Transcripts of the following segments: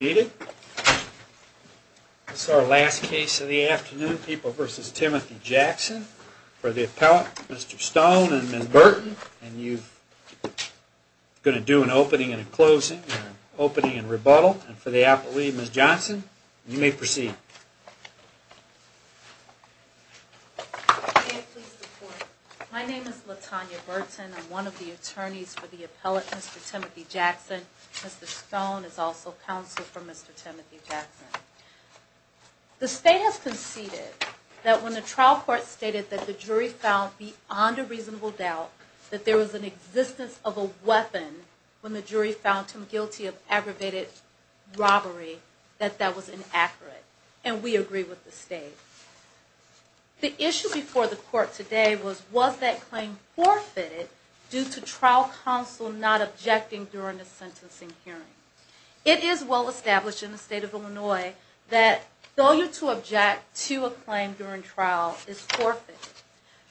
needed. It's our last case of the afternoon. People versus Timothy Jackson for the appellate, Mr Stone and Miss Burton. And you're going to do an opening and closing opening and rebuttal for the Apple leave. Miss Johnson, you may proceed. My name is LaTanya Burton, one of the attorneys for the appellate. Mr Timothy Jackson. Mr Stone is also counsel for Mr Timothy Jackson. The state has conceded that when the trial court stated that the jury found beyond a reasonable doubt that there was an existence of a weapon when the jury found him guilty of aggravated robbery, that that was inaccurate. And we agree with the state. The issue before the court today was was that claim forfeited due to trial counsel not objecting during the sentencing hearing. It is well established in the state of Illinois that failure to object to a claim during trial is forfeit.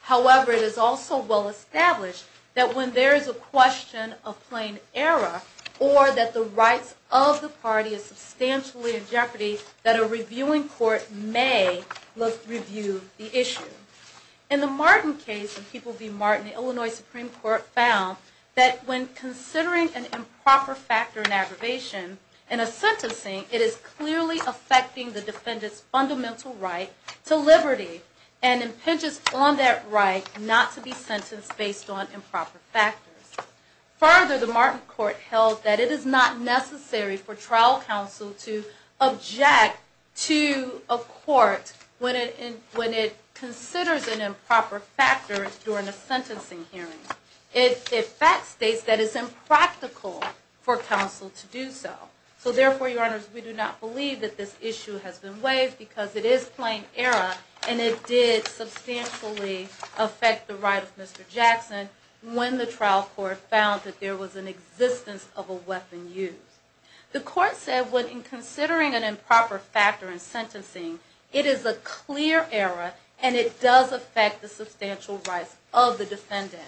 However, it is also well established that when there is a question of plain error or that the rights of the party is substantially in jeopardy, that a reviewing court may look review the issue. In the Martin case of People v. Martin, the Illinois Supreme Court found that when considering an improper factor in aggravation in a sentencing, it is clearly affecting the defendant's fundamental right to liberty and impinges on that right not to be sentenced based on improper factors. Further, the Martin court held that it is not necessary for trial counsel to object to a court when it considers an improper factor during a sentencing hearing. It fact states that it's impractical for counsel to do so. So therefore, your honors, we do not believe that this issue has been waived because it is plain error and it did substantially affect the right of Mr Jackson when the trial court found that there was an existence of a weapon used. The court said when considering an improper factor in sentencing, it is a clear error and it does affect the substantial rights of the defendant.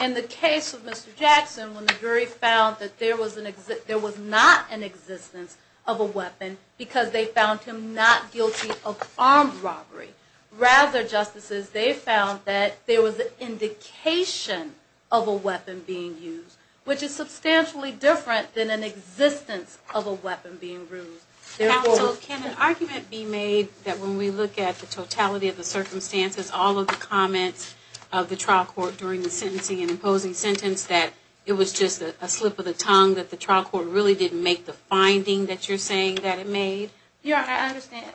In the case of Mr. Jackson, when the jury found that there was not an existence of a weapon because they found him not guilty of armed robbery. Rather, justices, they found that there was an indication of a weapon being used, which is substantially different than an existence of a weapon being bruised. Counsel, can an argument be made that when we look at the totality of the circumstances, all of the comments of the trial court during the sentencing and imposing sentence that it was just a slip of the tongue that the trial court really didn't make the finding that you're saying that it made your understand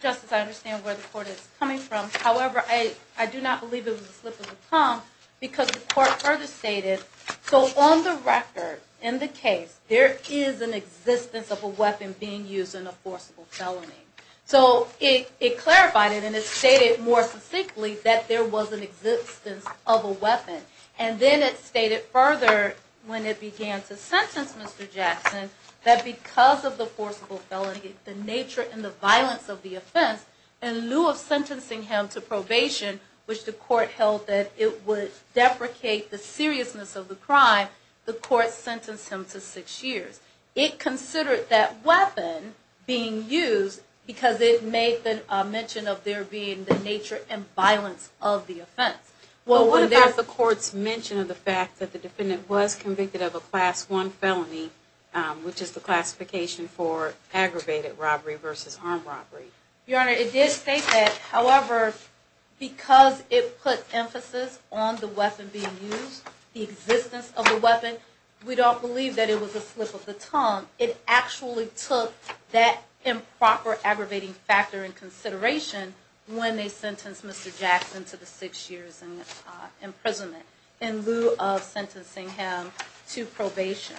justice. I understand where the court is coming from. However, I do not believe it was a slip of the tongue because the court further stated so on the record in the case, there is an existence of a weapon being used in a forcible felony. So it clarified it and it stated more succinctly that there was an existence of a weapon. And then it stated further when it began to sentence Mr. Jackson, that because of the forcible felony, the nature and the violence of the offense, in lieu of sentencing him to probation, which the court sentenced him to six years, it considered that weapon being used because it made the mention of there being the nature and violence of the offense. Well, what about the court's mention of the fact that the defendant was convicted of a class one felony, which is the classification for aggravated robbery versus armed robbery? Your honor, it did state that. However, because it put emphasis on the weapon being used, the existence of the weapon, we don't believe that it was a slip of the tongue. It actually took that improper aggravating factor in consideration when they sentenced Mr Jackson to the six years and imprisonment in lieu of sentencing him to probation.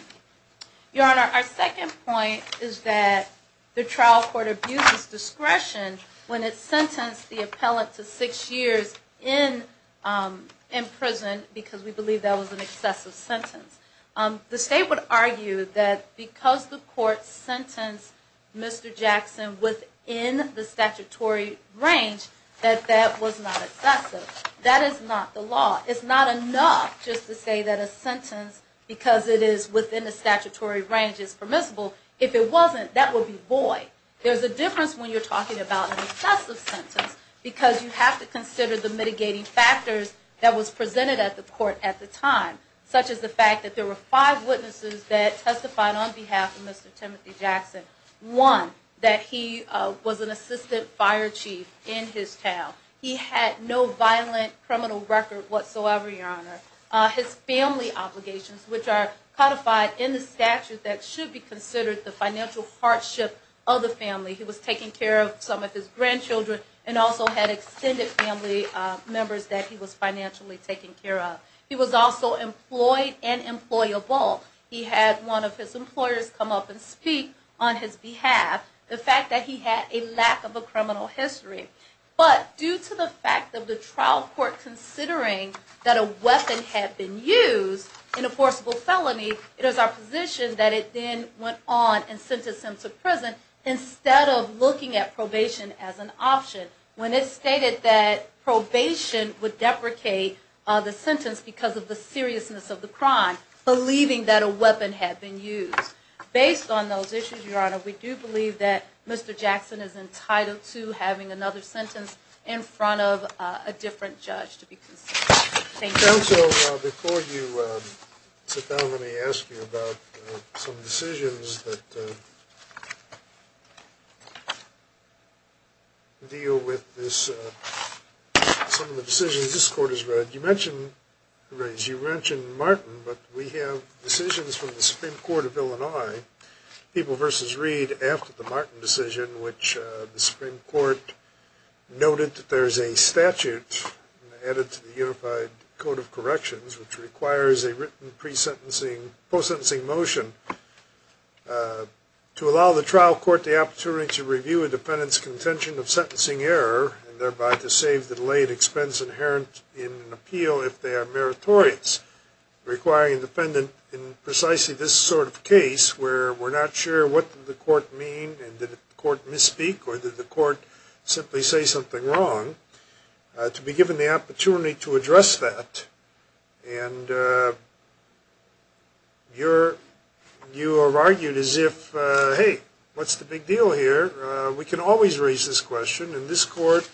Your honor, our second point is that the trial court abuses discretion when it sentenced the appellant to six years in, um, in prison because we believe that was an excessive sentence. Um, the state would argue that because the court sentenced Mr Jackson within the statutory range, that that was not excessive. That is not the law. It's not enough just to say that a sentence because it is within the statutory range is permissible. If it when you're talking about excessive sentence because you have to consider the mitigating factors that was presented at the court at the time, such as the fact that there were five witnesses that testified on behalf of Mr Timothy Jackson, one that he was an assistant fire chief in his town. He had no violent criminal record whatsoever. Your honor, his family obligations, which are codified in the statute that should be considered the financial hardship of the family. He was taking care of some of his grandchildren and also had extended family members that he was financially taken care of. He was also employed and employable. He had one of his employers come up and speak on his behalf. The fact that he had a lack of a criminal history, but due to the fact of the trial court considering that a weapon had been used in a instead of looking at probation as an option when it stated that probation would deprecate the sentence because of the seriousness of the crime, believing that a weapon had been used based on those issues. Your honor, we do believe that Mr Jackson is entitled to having another sentence in front of a different judge to be considered. Thank you. Before you sit down, let me ask you about some decisions that deal with this. Some of the decisions this court has read. You mentioned, you mentioned Martin, but we have decisions from the Supreme Court of Illinois, People v. Reed after the Martin decision, which the Supreme Court noted that there is a statute added to the Unified Code of sentencing motion to allow the trial court the opportunity to review a defendant's contention of sentencing error and thereby to save the delayed expense inherent in an appeal if they are meritorious, requiring a defendant in precisely this sort of case where we're not sure what did the court mean and did the court misspeak or did the court simply say something wrong, to be given the opportunity to address that. And you're, you have argued as if, hey, what's the big deal here? We can always raise this question. And this court,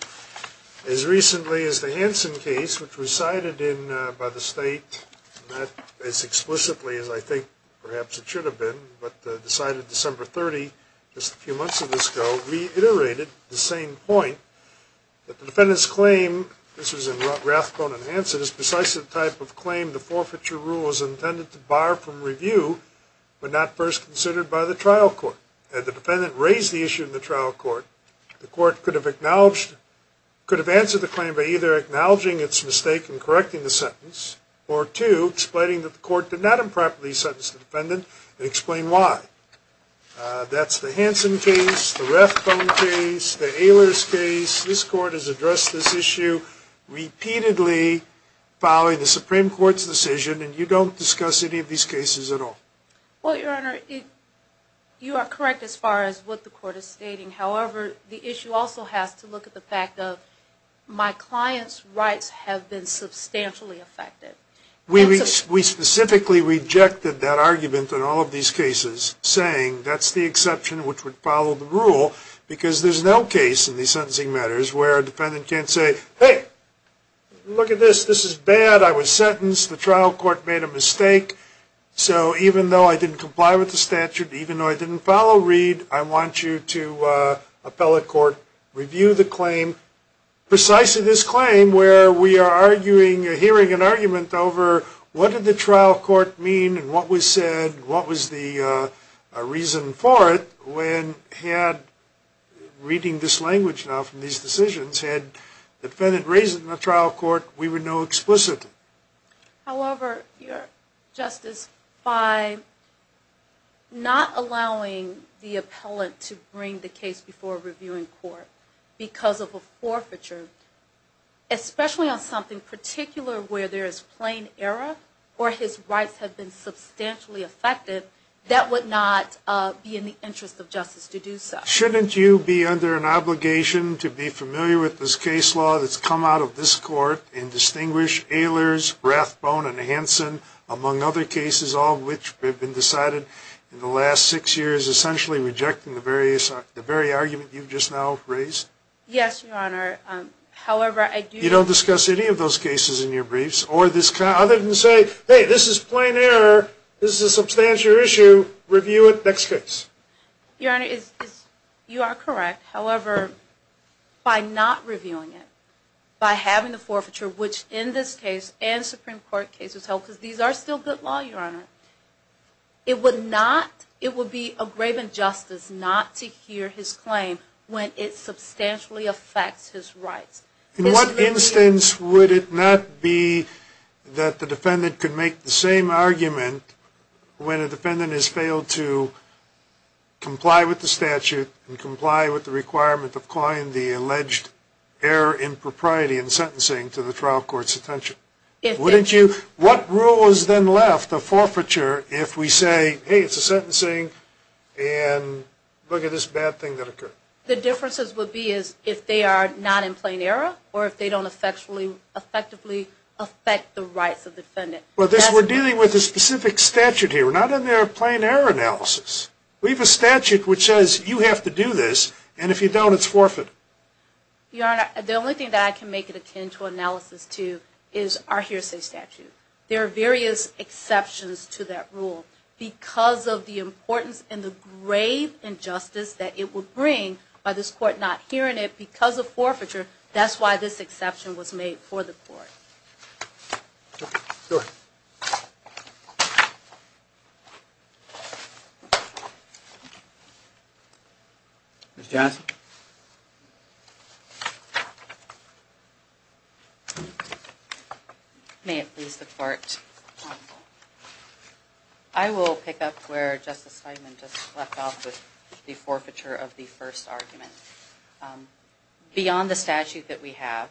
as recently as the Hansen case, which was cited in, by the state, not as explicitly as I think perhaps it should have been, but decided December 30, just a few months ago, reiterated the same point that the defendant's claim, this was in Rathbone and Hansen, is precisely the type of claim the forfeiture rule is intended to bar from review but not first considered by the trial court. Had the defendant raised the issue in the trial court, the court could have acknowledged, could have answered the claim by either acknowledging its mistake in correcting the sentence or two, explaining that the court did not improperly sentence the Rathbone case, the Ehlers case. This court has addressed this issue repeatedly following the Supreme Court's decision and you don't discuss any of these cases at all. Well, Your Honor, you are correct as far as what the court is stating. However, the issue also has to look at the fact of my client's rights have been substantially affected. We specifically rejected that argument in all of these cases, saying that's the exception which would follow the rule because there's no case in these sentencing matters where a defendant can't say, hey, look at this. This is bad. I was sentenced. The trial court made a mistake. So even though I didn't comply with the statute, even though I didn't follow Reed, I want you to, appellate court, review the claim, precisely this claim where we are arguing, hearing an argument over what did the trial court mean and what was said, what was the reason for it when he had, reading this language now from these decisions, had the defendant raised it in the trial court, we would know explicitly. However, Justice, by not allowing the appellant to bring the case before a reviewing court because of a forfeiture, especially on something particular where there is plain error or his rights have been substantially affected, that would not be in the interest of justice to do so. Shouldn't you be under an obligation to be familiar with this case law that's come out of this court and distinguish Ehlers, Rathbone, and Hansen, among other cases, all of which have been decided in the last six years, essentially rejecting the very argument you've just now raised? Yes, Your Honor. However, I do... I don't see the necessity of those cases in your briefs, other than to say, hey, this is plain error, this is a substantial issue, review it, next case. Your Honor, you are correct. However, by not reviewing it, by having the forfeiture, which in this case and Supreme Court cases help, because these are still good law, Your Honor, it would not, it would be a grave injustice not to hear his claim when it substantially affects his rights. In what instance would it not be that the defendant could make the same argument when a defendant has failed to comply with the statute and comply with the requirement of calling the alleged error in propriety in sentencing to the trial court's attention? Wouldn't you... What rule is then left, the forfeiture, if we say, hey, it's a sentencing and look at this bad thing that occurred? The differences would be if they are not in plain error or if they don't effectively affect the rights of the defendant. Well, we're dealing with a specific statute here. We're not in their plain error analysis. We have a statute which says you have to do this, and if you don't, it's forfeit. Your Honor, the only thing that I can make it attend to analysis to is our hearsay statute. There are various exceptions to that rule because of the importance and the grave injustice that it would bring by this court not hearing it because of forfeiture. That's why this exception was made for the court. Ms. Johnson? May it please the court. I will pick up where Justice Feigman just left off with the forfeiture of the first argument. Beyond the statute that we have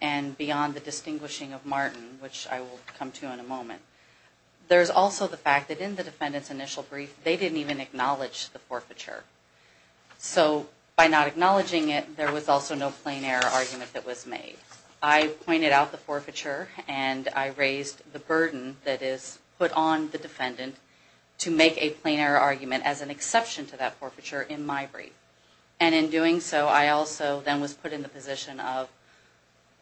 and beyond the distinguishing of Martin, which I will come to in a moment, there's also the fact that in the defendant's initial brief, they didn't even acknowledge the forfeiture. So by not acknowledging it, there was also no plain error argument that was made. I raised the burden that is put on the defendant to make a plain error argument as an exception to that forfeiture in my brief. And in doing so, I also then was put in the position of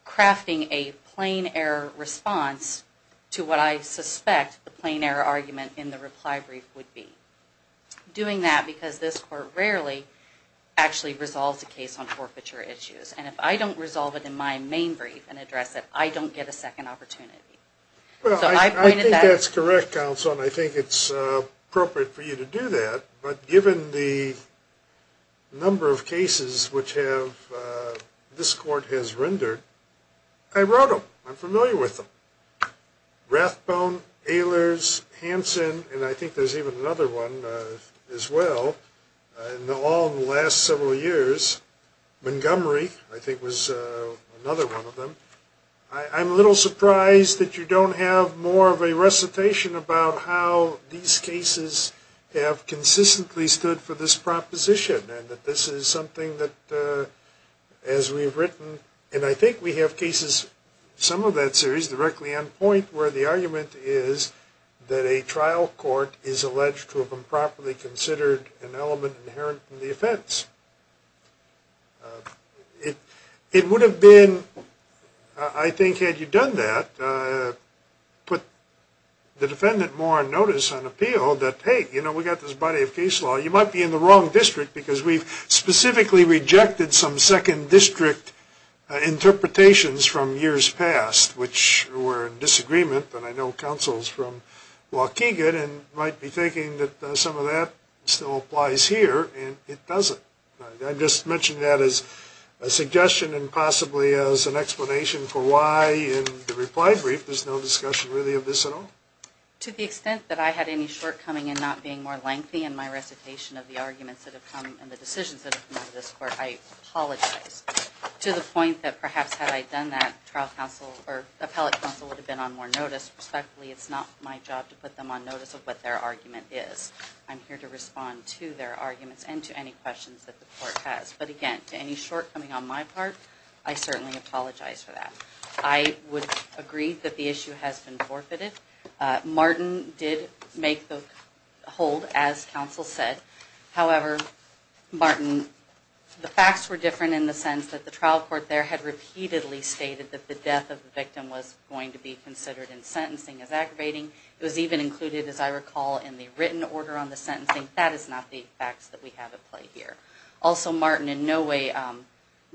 crafting a plain error response to what I suspect the plain error argument in the reply brief would be. Doing that because this court rarely actually resolves a case on forfeiture issues. And if I don't resolve it in my main brief and address it, I don't get a second opportunity. Well, I think that's correct, counsel. And I think it's appropriate for you to do that. But given the number of cases which have this court has rendered, I wrote them. I'm familiar with them. Rathbone, Ehlers, Hansen, and I think there's even another one as well. In all the last several years, Montgomery, I am a little surprised that you don't have more of a recitation about how these cases have consistently stood for this proposition. And that this is something that, as we've written, and I think we have cases, some of that series, directly on point where the argument is that a trial court is alleged to have improperly considered an element inherent in the offense. It would have been, I think, had you done that, put the defendant more on notice on appeal that, hey, you know, we got this body of case law. You might be in the wrong district because we've specifically rejected some second district interpretations from years past, which were in disagreement, but I know counsel's from Waukegan and might be thinking that some of that still applies here, and it doesn't. I'm just mentioning that as a suggestion and possibly as an explanation for why in the reply brief there's no discussion really of this at all. To the extent that I had any shortcoming in not being more lengthy in my recitation of the arguments that have come and the decisions that have come out of this court, I apologize. To the point that perhaps had I done that, trial counsel or appellate counsel would have been on more notice. Respectfully, it's not my job to put them on notice of what their argument is. I'm here to respond to their arguments and to any questions that the court has. But again, to any shortcoming on my part, I certainly apologize for that. I would agree that the issue has been forfeited. Martin did make the hold, as counsel said. However, Martin, the facts were different in the sense that the trial court there had repeatedly stated that the death of the victim was going to be considered in sentencing as aggravating. It was even included, as I recall, in the written order on the sentencing. That is not the facts that we have at play here. Also, Martin in no way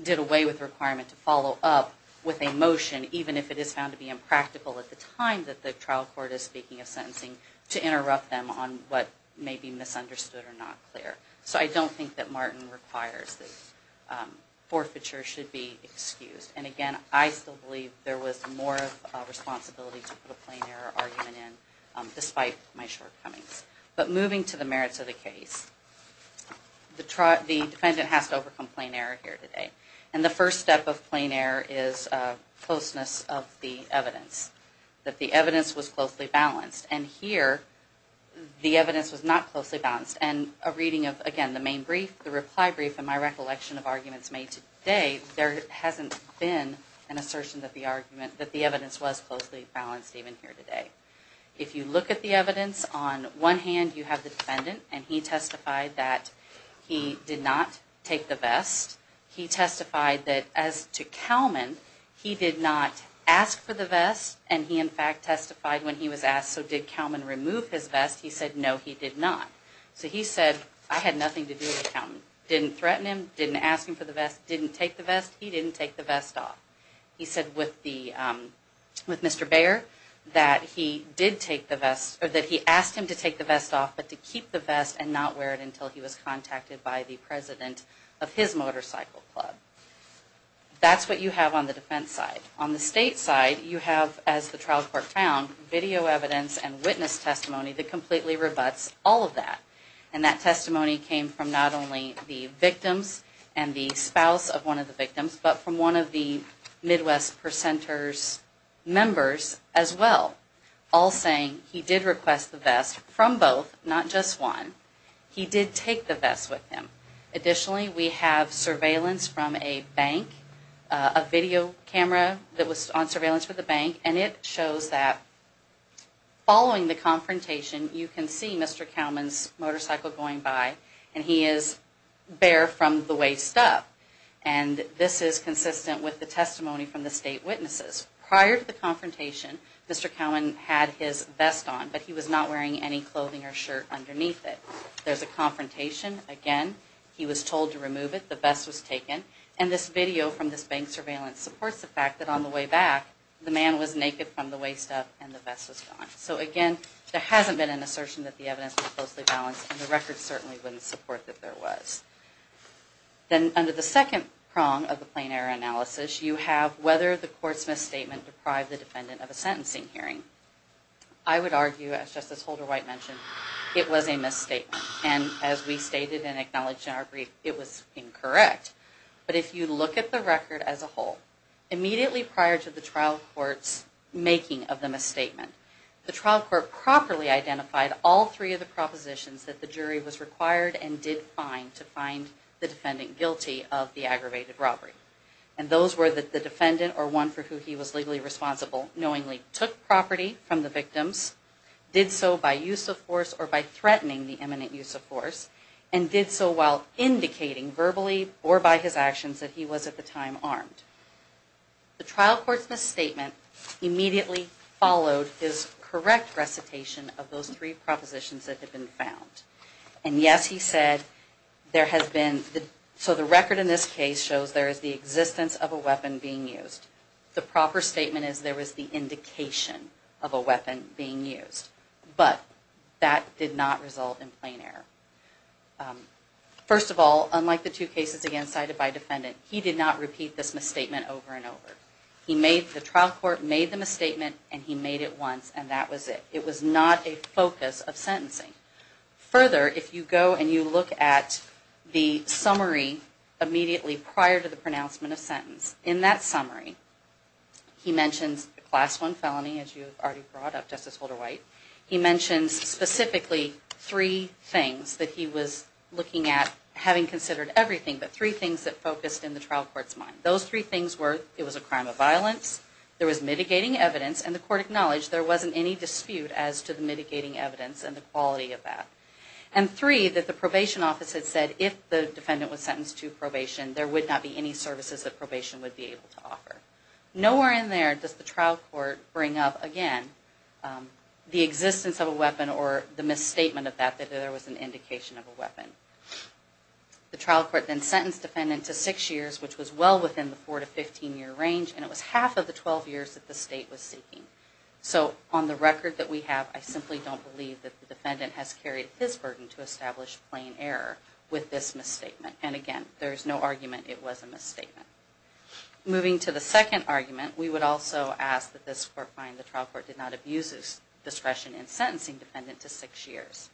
did away with the requirement to follow up with a motion, even if it is found to be impractical at the time that the trial court is speaking of sentencing, to interrupt them on what may be misunderstood or not clear. So I don't think that Martin requires that forfeiture should be excused. And again, I still believe there was more responsibility to put a plain error argument in, despite my shortcomings. But moving to the merits of the case, the defendant has to overcome plain error here today. And the first step of plain error is closeness of the evidence. That the evidence was closely balanced. And here, the evidence was not closely balanced. And a reading of, again, the main brief, the reply brief, and my recollection of arguments made today, there hasn't been an assertion that the evidence was closely balanced even here today. If you look at the evidence, on one hand you have the defendant, and he testified that he did not take the vest. He testified that as to Kalman, he did not ask for the vest, and he in fact testified when he was asked, so did Kalman remove his vest? He said no, he did not. So he said, I had nothing to do with Kalman. Didn't threaten him, didn't ask him for the vest, didn't take the vest, he didn't take the vest off. He said with Mr. Bayer that he did take the vest, or that he asked him to take the vest off, but to keep the vest and not wear it until he was contacted by the president of his motorcycle club. That's what you have on the defense side. On the state side, you have, as the trial court found, video evidence and witness testimony that completely rebuts all of that. And that testimony came from not only the victims, but from one of the Midwest Percenters members as well, all saying he did request the vest from both, not just one. He did take the vest with him. Additionally, we have surveillance from a bank, a video camera that was on surveillance for the bank, and it shows that following the confrontation, you can Mr. Kalman's motorcycle going by, and he is bare from the waist up. And this is consistent with the testimony from the state witnesses. Prior to the confrontation, Mr. Kalman had his vest on, but he was not wearing any clothing or shirt underneath it. There's a confrontation, again, he was told to remove it, the vest was taken, and this video from this bank surveillance supports the fact that on the way back, the man was naked from the waist up, and the evidence was closely balanced, and the record certainly wouldn't support that there was. Then under the second prong of the Plain Error Analysis, you have whether the court's misstatement deprived the defendant of a sentencing hearing. I would argue, as Justice Holder-White mentioned, it was a misstatement. And as we stated and acknowledged in our brief, it was incorrect. But if you look at the record as a whole, immediately prior to the trial court's making of the misstatement, the trial court properly identified all three of the propositions that the jury was required and did find to find the defendant guilty of the aggravated robbery. And those were that the defendant, or one for who he was legally responsible, knowingly took property from the victims, did so by use of force or by threatening the imminent use of force, and did so while indicating verbally or by his actions that he was at the time armed. The trial court's misstatement immediately followed his correct recitation of those three propositions that had been found. And yes, he said, there has been, so the record in this case shows there is the existence of a weapon being used. The proper statement is there was the indication of a weapon being used. But that did not result in plain error. First of all, unlike the two cases again cited by defendant, he did not repeat this misstatement over and over. He made, the trial court made the misstatement and he made it once and that was it. It was not a focus of sentencing. Further, if you go and you look at the summary immediately prior to the pronouncement of sentence, in that summary he mentions the class one felony, as you already brought up Justice Holder-White. He mentions specifically three things that he was looking at having considered everything, but three things that focused in the trial court's mind. Those three things were, it was a crime of violence, there was mitigating evidence, and the court acknowledged there wasn't any dispute as to the mitigating evidence and the quality of that. And three, that the probation office had said if the defendant was sentenced to probation, there would not be any services that probation would be able to offer. Nowhere in there does the trial court bring up, again, the existence of a weapon or the misstatement of that, that there was an indication of a weapon. The trial court then sentenced defendant to six years, which was well within the four to 15 year range, and it was half of the 12 years that the state was seeking. So on the record that we have, I simply don't believe that the defendant has carried his burden to establish plain error with this misstatement. And again, there's no argument it was a misstatement. Moving to the second argument, we would also ask that this court find the trial court did not abuse discretion in sentencing defendant to six years.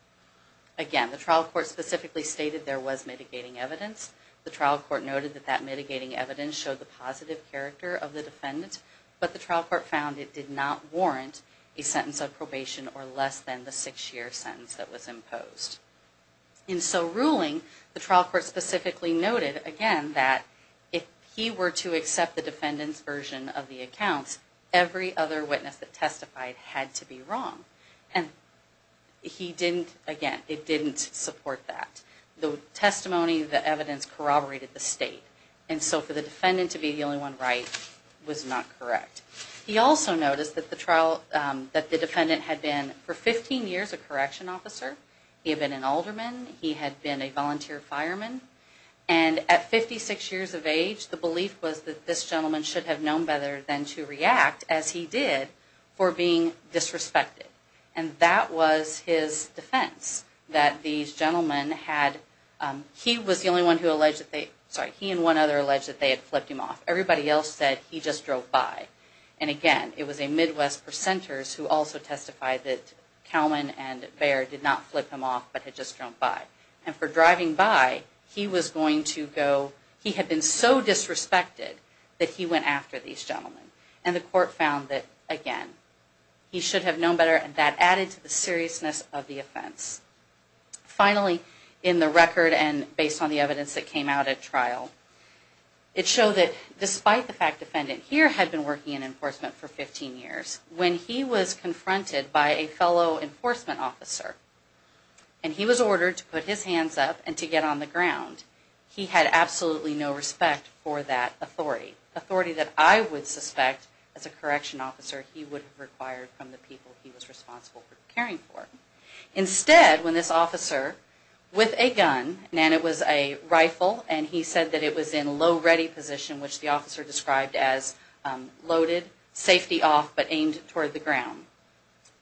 Again, the trial court specifically stated there was mitigating evidence. The trial court noted that that mitigating evidence showed the positive character of the defendant, but the trial court found it did not warrant a sentence of probation or less than the six-year sentence that was imposed. In so ruling, the trial court specifically noted, again, that if he were to accept the defendant's version of the accounts, every other witness that testified had to be wrong. And he didn't, again, it didn't support that. The defendant to be the only one right was not correct. He also noticed that the trial, that the defendant had been for 15 years a correction officer. He had been an alderman. He had been a volunteer fireman. And at 56 years of age, the belief was that this gentleman should have known better than to react, as he did, for being disrespected. And that was his defense, that these gentlemen had, he was the only one who alleged that they, sorry, he and one other alleged that they flipped him off. Everybody else said he just drove by. And again, it was a Midwest percenters who also testified that Kalman and Baird did not flip him off, but had just drove by. And for driving by, he was going to go, he had been so disrespected that he went after these gentlemen. And the court found that, again, he should have known better, and that added to the seriousness of the offense. Finally, in the record and based on the evidence that came out at trial, it showed that, despite the fact defendant here had been working in enforcement for 15 years, when he was confronted by a fellow enforcement officer, and he was ordered to put his hands up and to get on the ground, he had absolutely no respect for that authority. Authority that I would suspect, as a correction officer, he would have required from the people he was responsible for caring for. Instead, when this officer, with a gun, and it was a low ready position, which the officer described as loaded, safety off, but aimed toward the ground.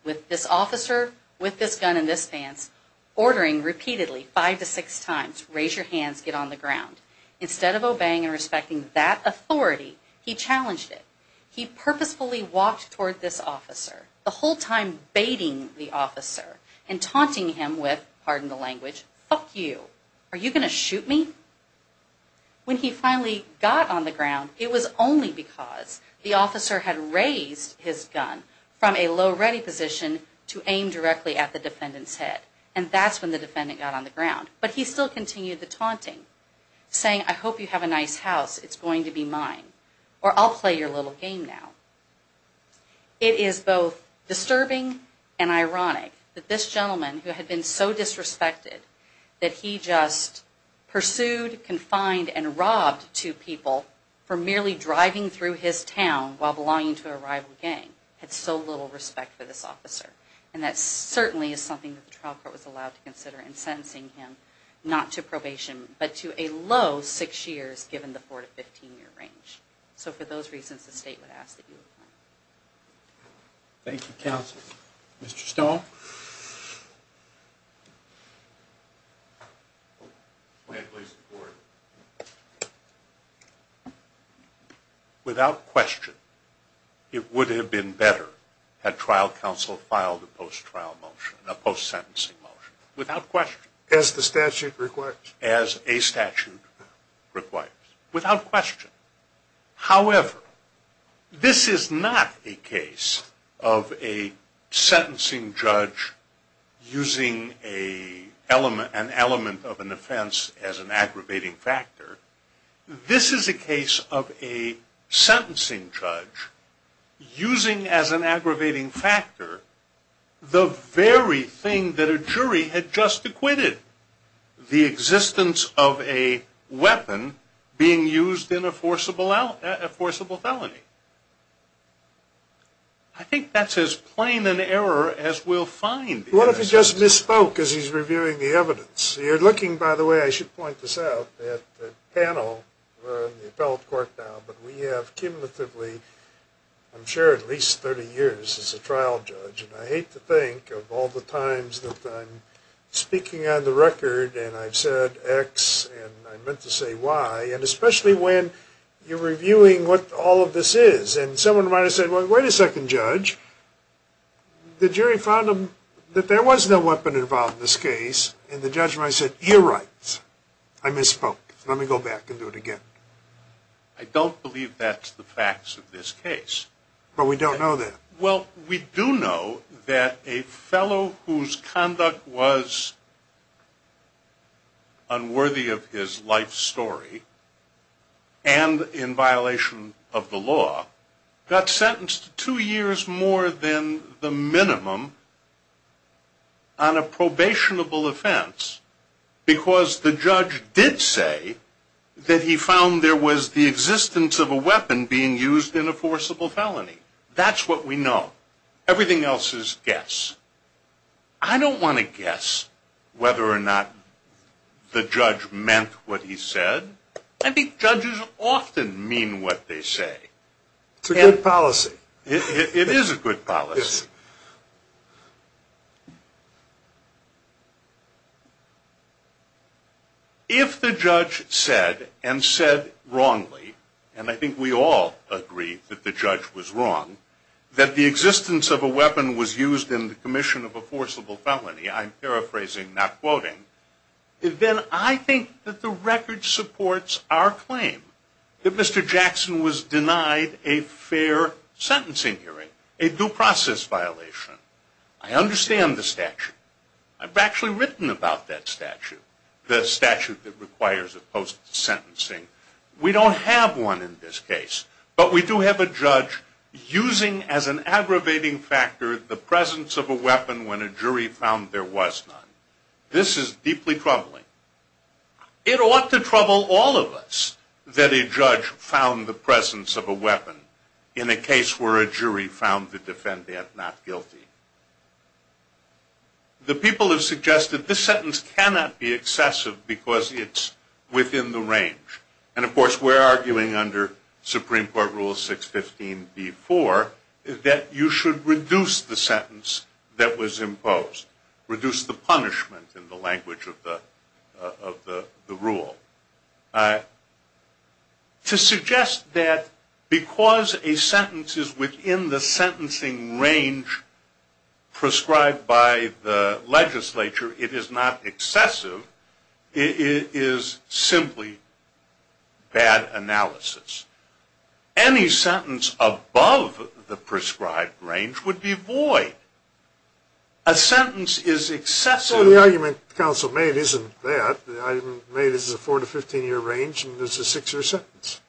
With this officer, with this gun, and this stance, ordering repeatedly, five to six times, raise your hands, get on the ground. Instead of obeying and respecting that authority, he challenged it. He purposefully walked toward this officer, the whole time baiting the officer, and taunting him with, pardon the language, fuck you, are you going to shoot me? When he finally got on the ground, it was only because the officer had raised his gun from a low ready position to aim directly at the defendant's head, and that's when the defendant got on the ground. But he still continued the taunting, saying, I hope you have a nice house, it's going to be mine, or I'll play your little game now. It is both disturbing and ironic that this gentleman, who had been so disrespected, that he just pursued, confined, and robbed two people for merely driving through his town while belonging to a rival gang, had so little respect for this officer. And that certainly is something that the trial court was allowed to consider in sentencing him, not to probation, but to a low six years, given the four to fifteen year range. So for those reasons, the Thank you, counsel. Mr. Stone? Without question, it would have been better had trial counsel filed a post trial motion, a post sentencing motion, without question. As the statute requires. As a statute requires, without question. However, this is not a case of a sentencing judge using an element of an offense as an aggravating factor. This is a case of a sentencing judge using as an aggravating factor the very thing that a jury had just acquitted, the existence of a weapon being used in a forcible felony. I think that's as plain an error as we'll find. What if he just misspoke as he's reviewing the evidence? You're looking, by the way, I should point this out, at the panel, we're in the appellate court now, but we have cumulatively, I'm sure at least thirty years as a trial judge, and I hate to think of all the times that I'm speaking on the record and I've said X and I meant to say Y, and especially when you're reviewing what all of this is, and someone might have said, wait a second, judge, the jury found that there was no weapon involved in this case, and the judge might have said, you're right, I misspoke. Let me go back and do it again. I don't believe that's the facts of this case. But we don't know that. Well, we do know that a fellow whose conduct was unworthy of his life story and in violation of the law got sentenced to two years more than the minimum on a probationable offense because the judge did say that he found there was the existence of a weapon being used in a forcible felony. That's what we know. Everything else is guess. I don't want to guess whether or not the judge meant what he said. I think judges often mean what they say. It's a good policy. It is a good policy. If the judge said and said wrongly, and I think we all agree that the judge was wrong, that the existence of a weapon was used in the commission of a forcible felony, I'm paraphrasing, not quoting, then I think that the record supports our claim that Mr. Jackson was denied a fair sentencing hearing, a due process violation. I understand the statute. I've actually written about that statute, the statute that requires a post We don't have one in this case, but we do have a judge using as an aggravating factor the presence of a weapon when a jury found there was none. This is deeply troubling. It ought to trouble all of us that a judge found the presence of a weapon in a case where a jury found the defendant not guilty. The people have suggested this sentence cannot be excessive because it's within the range. And of course we're arguing under Supreme Court Rule 615 v. 4 that you should reduce the sentence that was imposed, reduce the punishment in the language of the rule. To suggest that because a sentence is within the sentencing range prescribed by the legislature, it is not excessive, is simply bad analysis. Any sentence above the prescribed range would be void. A sentence is excessive. Well, the argument counsel made isn't that. The argument made is a 4 to 15 year range, and there's a 6 year sentence.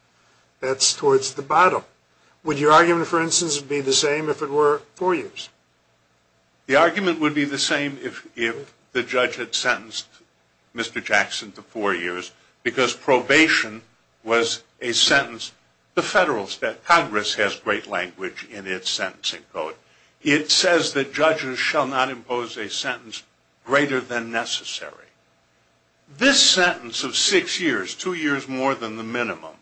That's towards the bottom. Would your argument, for instance, be the same if it were 4 years? The argument would be the same if the judge had sentenced Mr. Jackson to 4 years because probation was a sentence. The Federal Congress has great language in its sentencing code. It says that judges shall not impose a sentence greater than necessary. This sentence of 6 years, 2 years more than the minimum,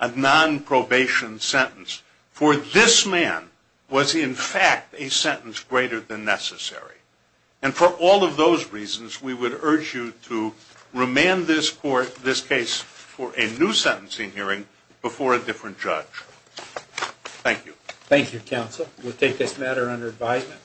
a non-probation sentence for this man was in fact a sentence greater than necessary. And for all of those reasons, we would urge you to remand this court, this case, for a new sentencing hearing before a different judge. Thank you. Thank you, counsel. We'll take this matter under advisement.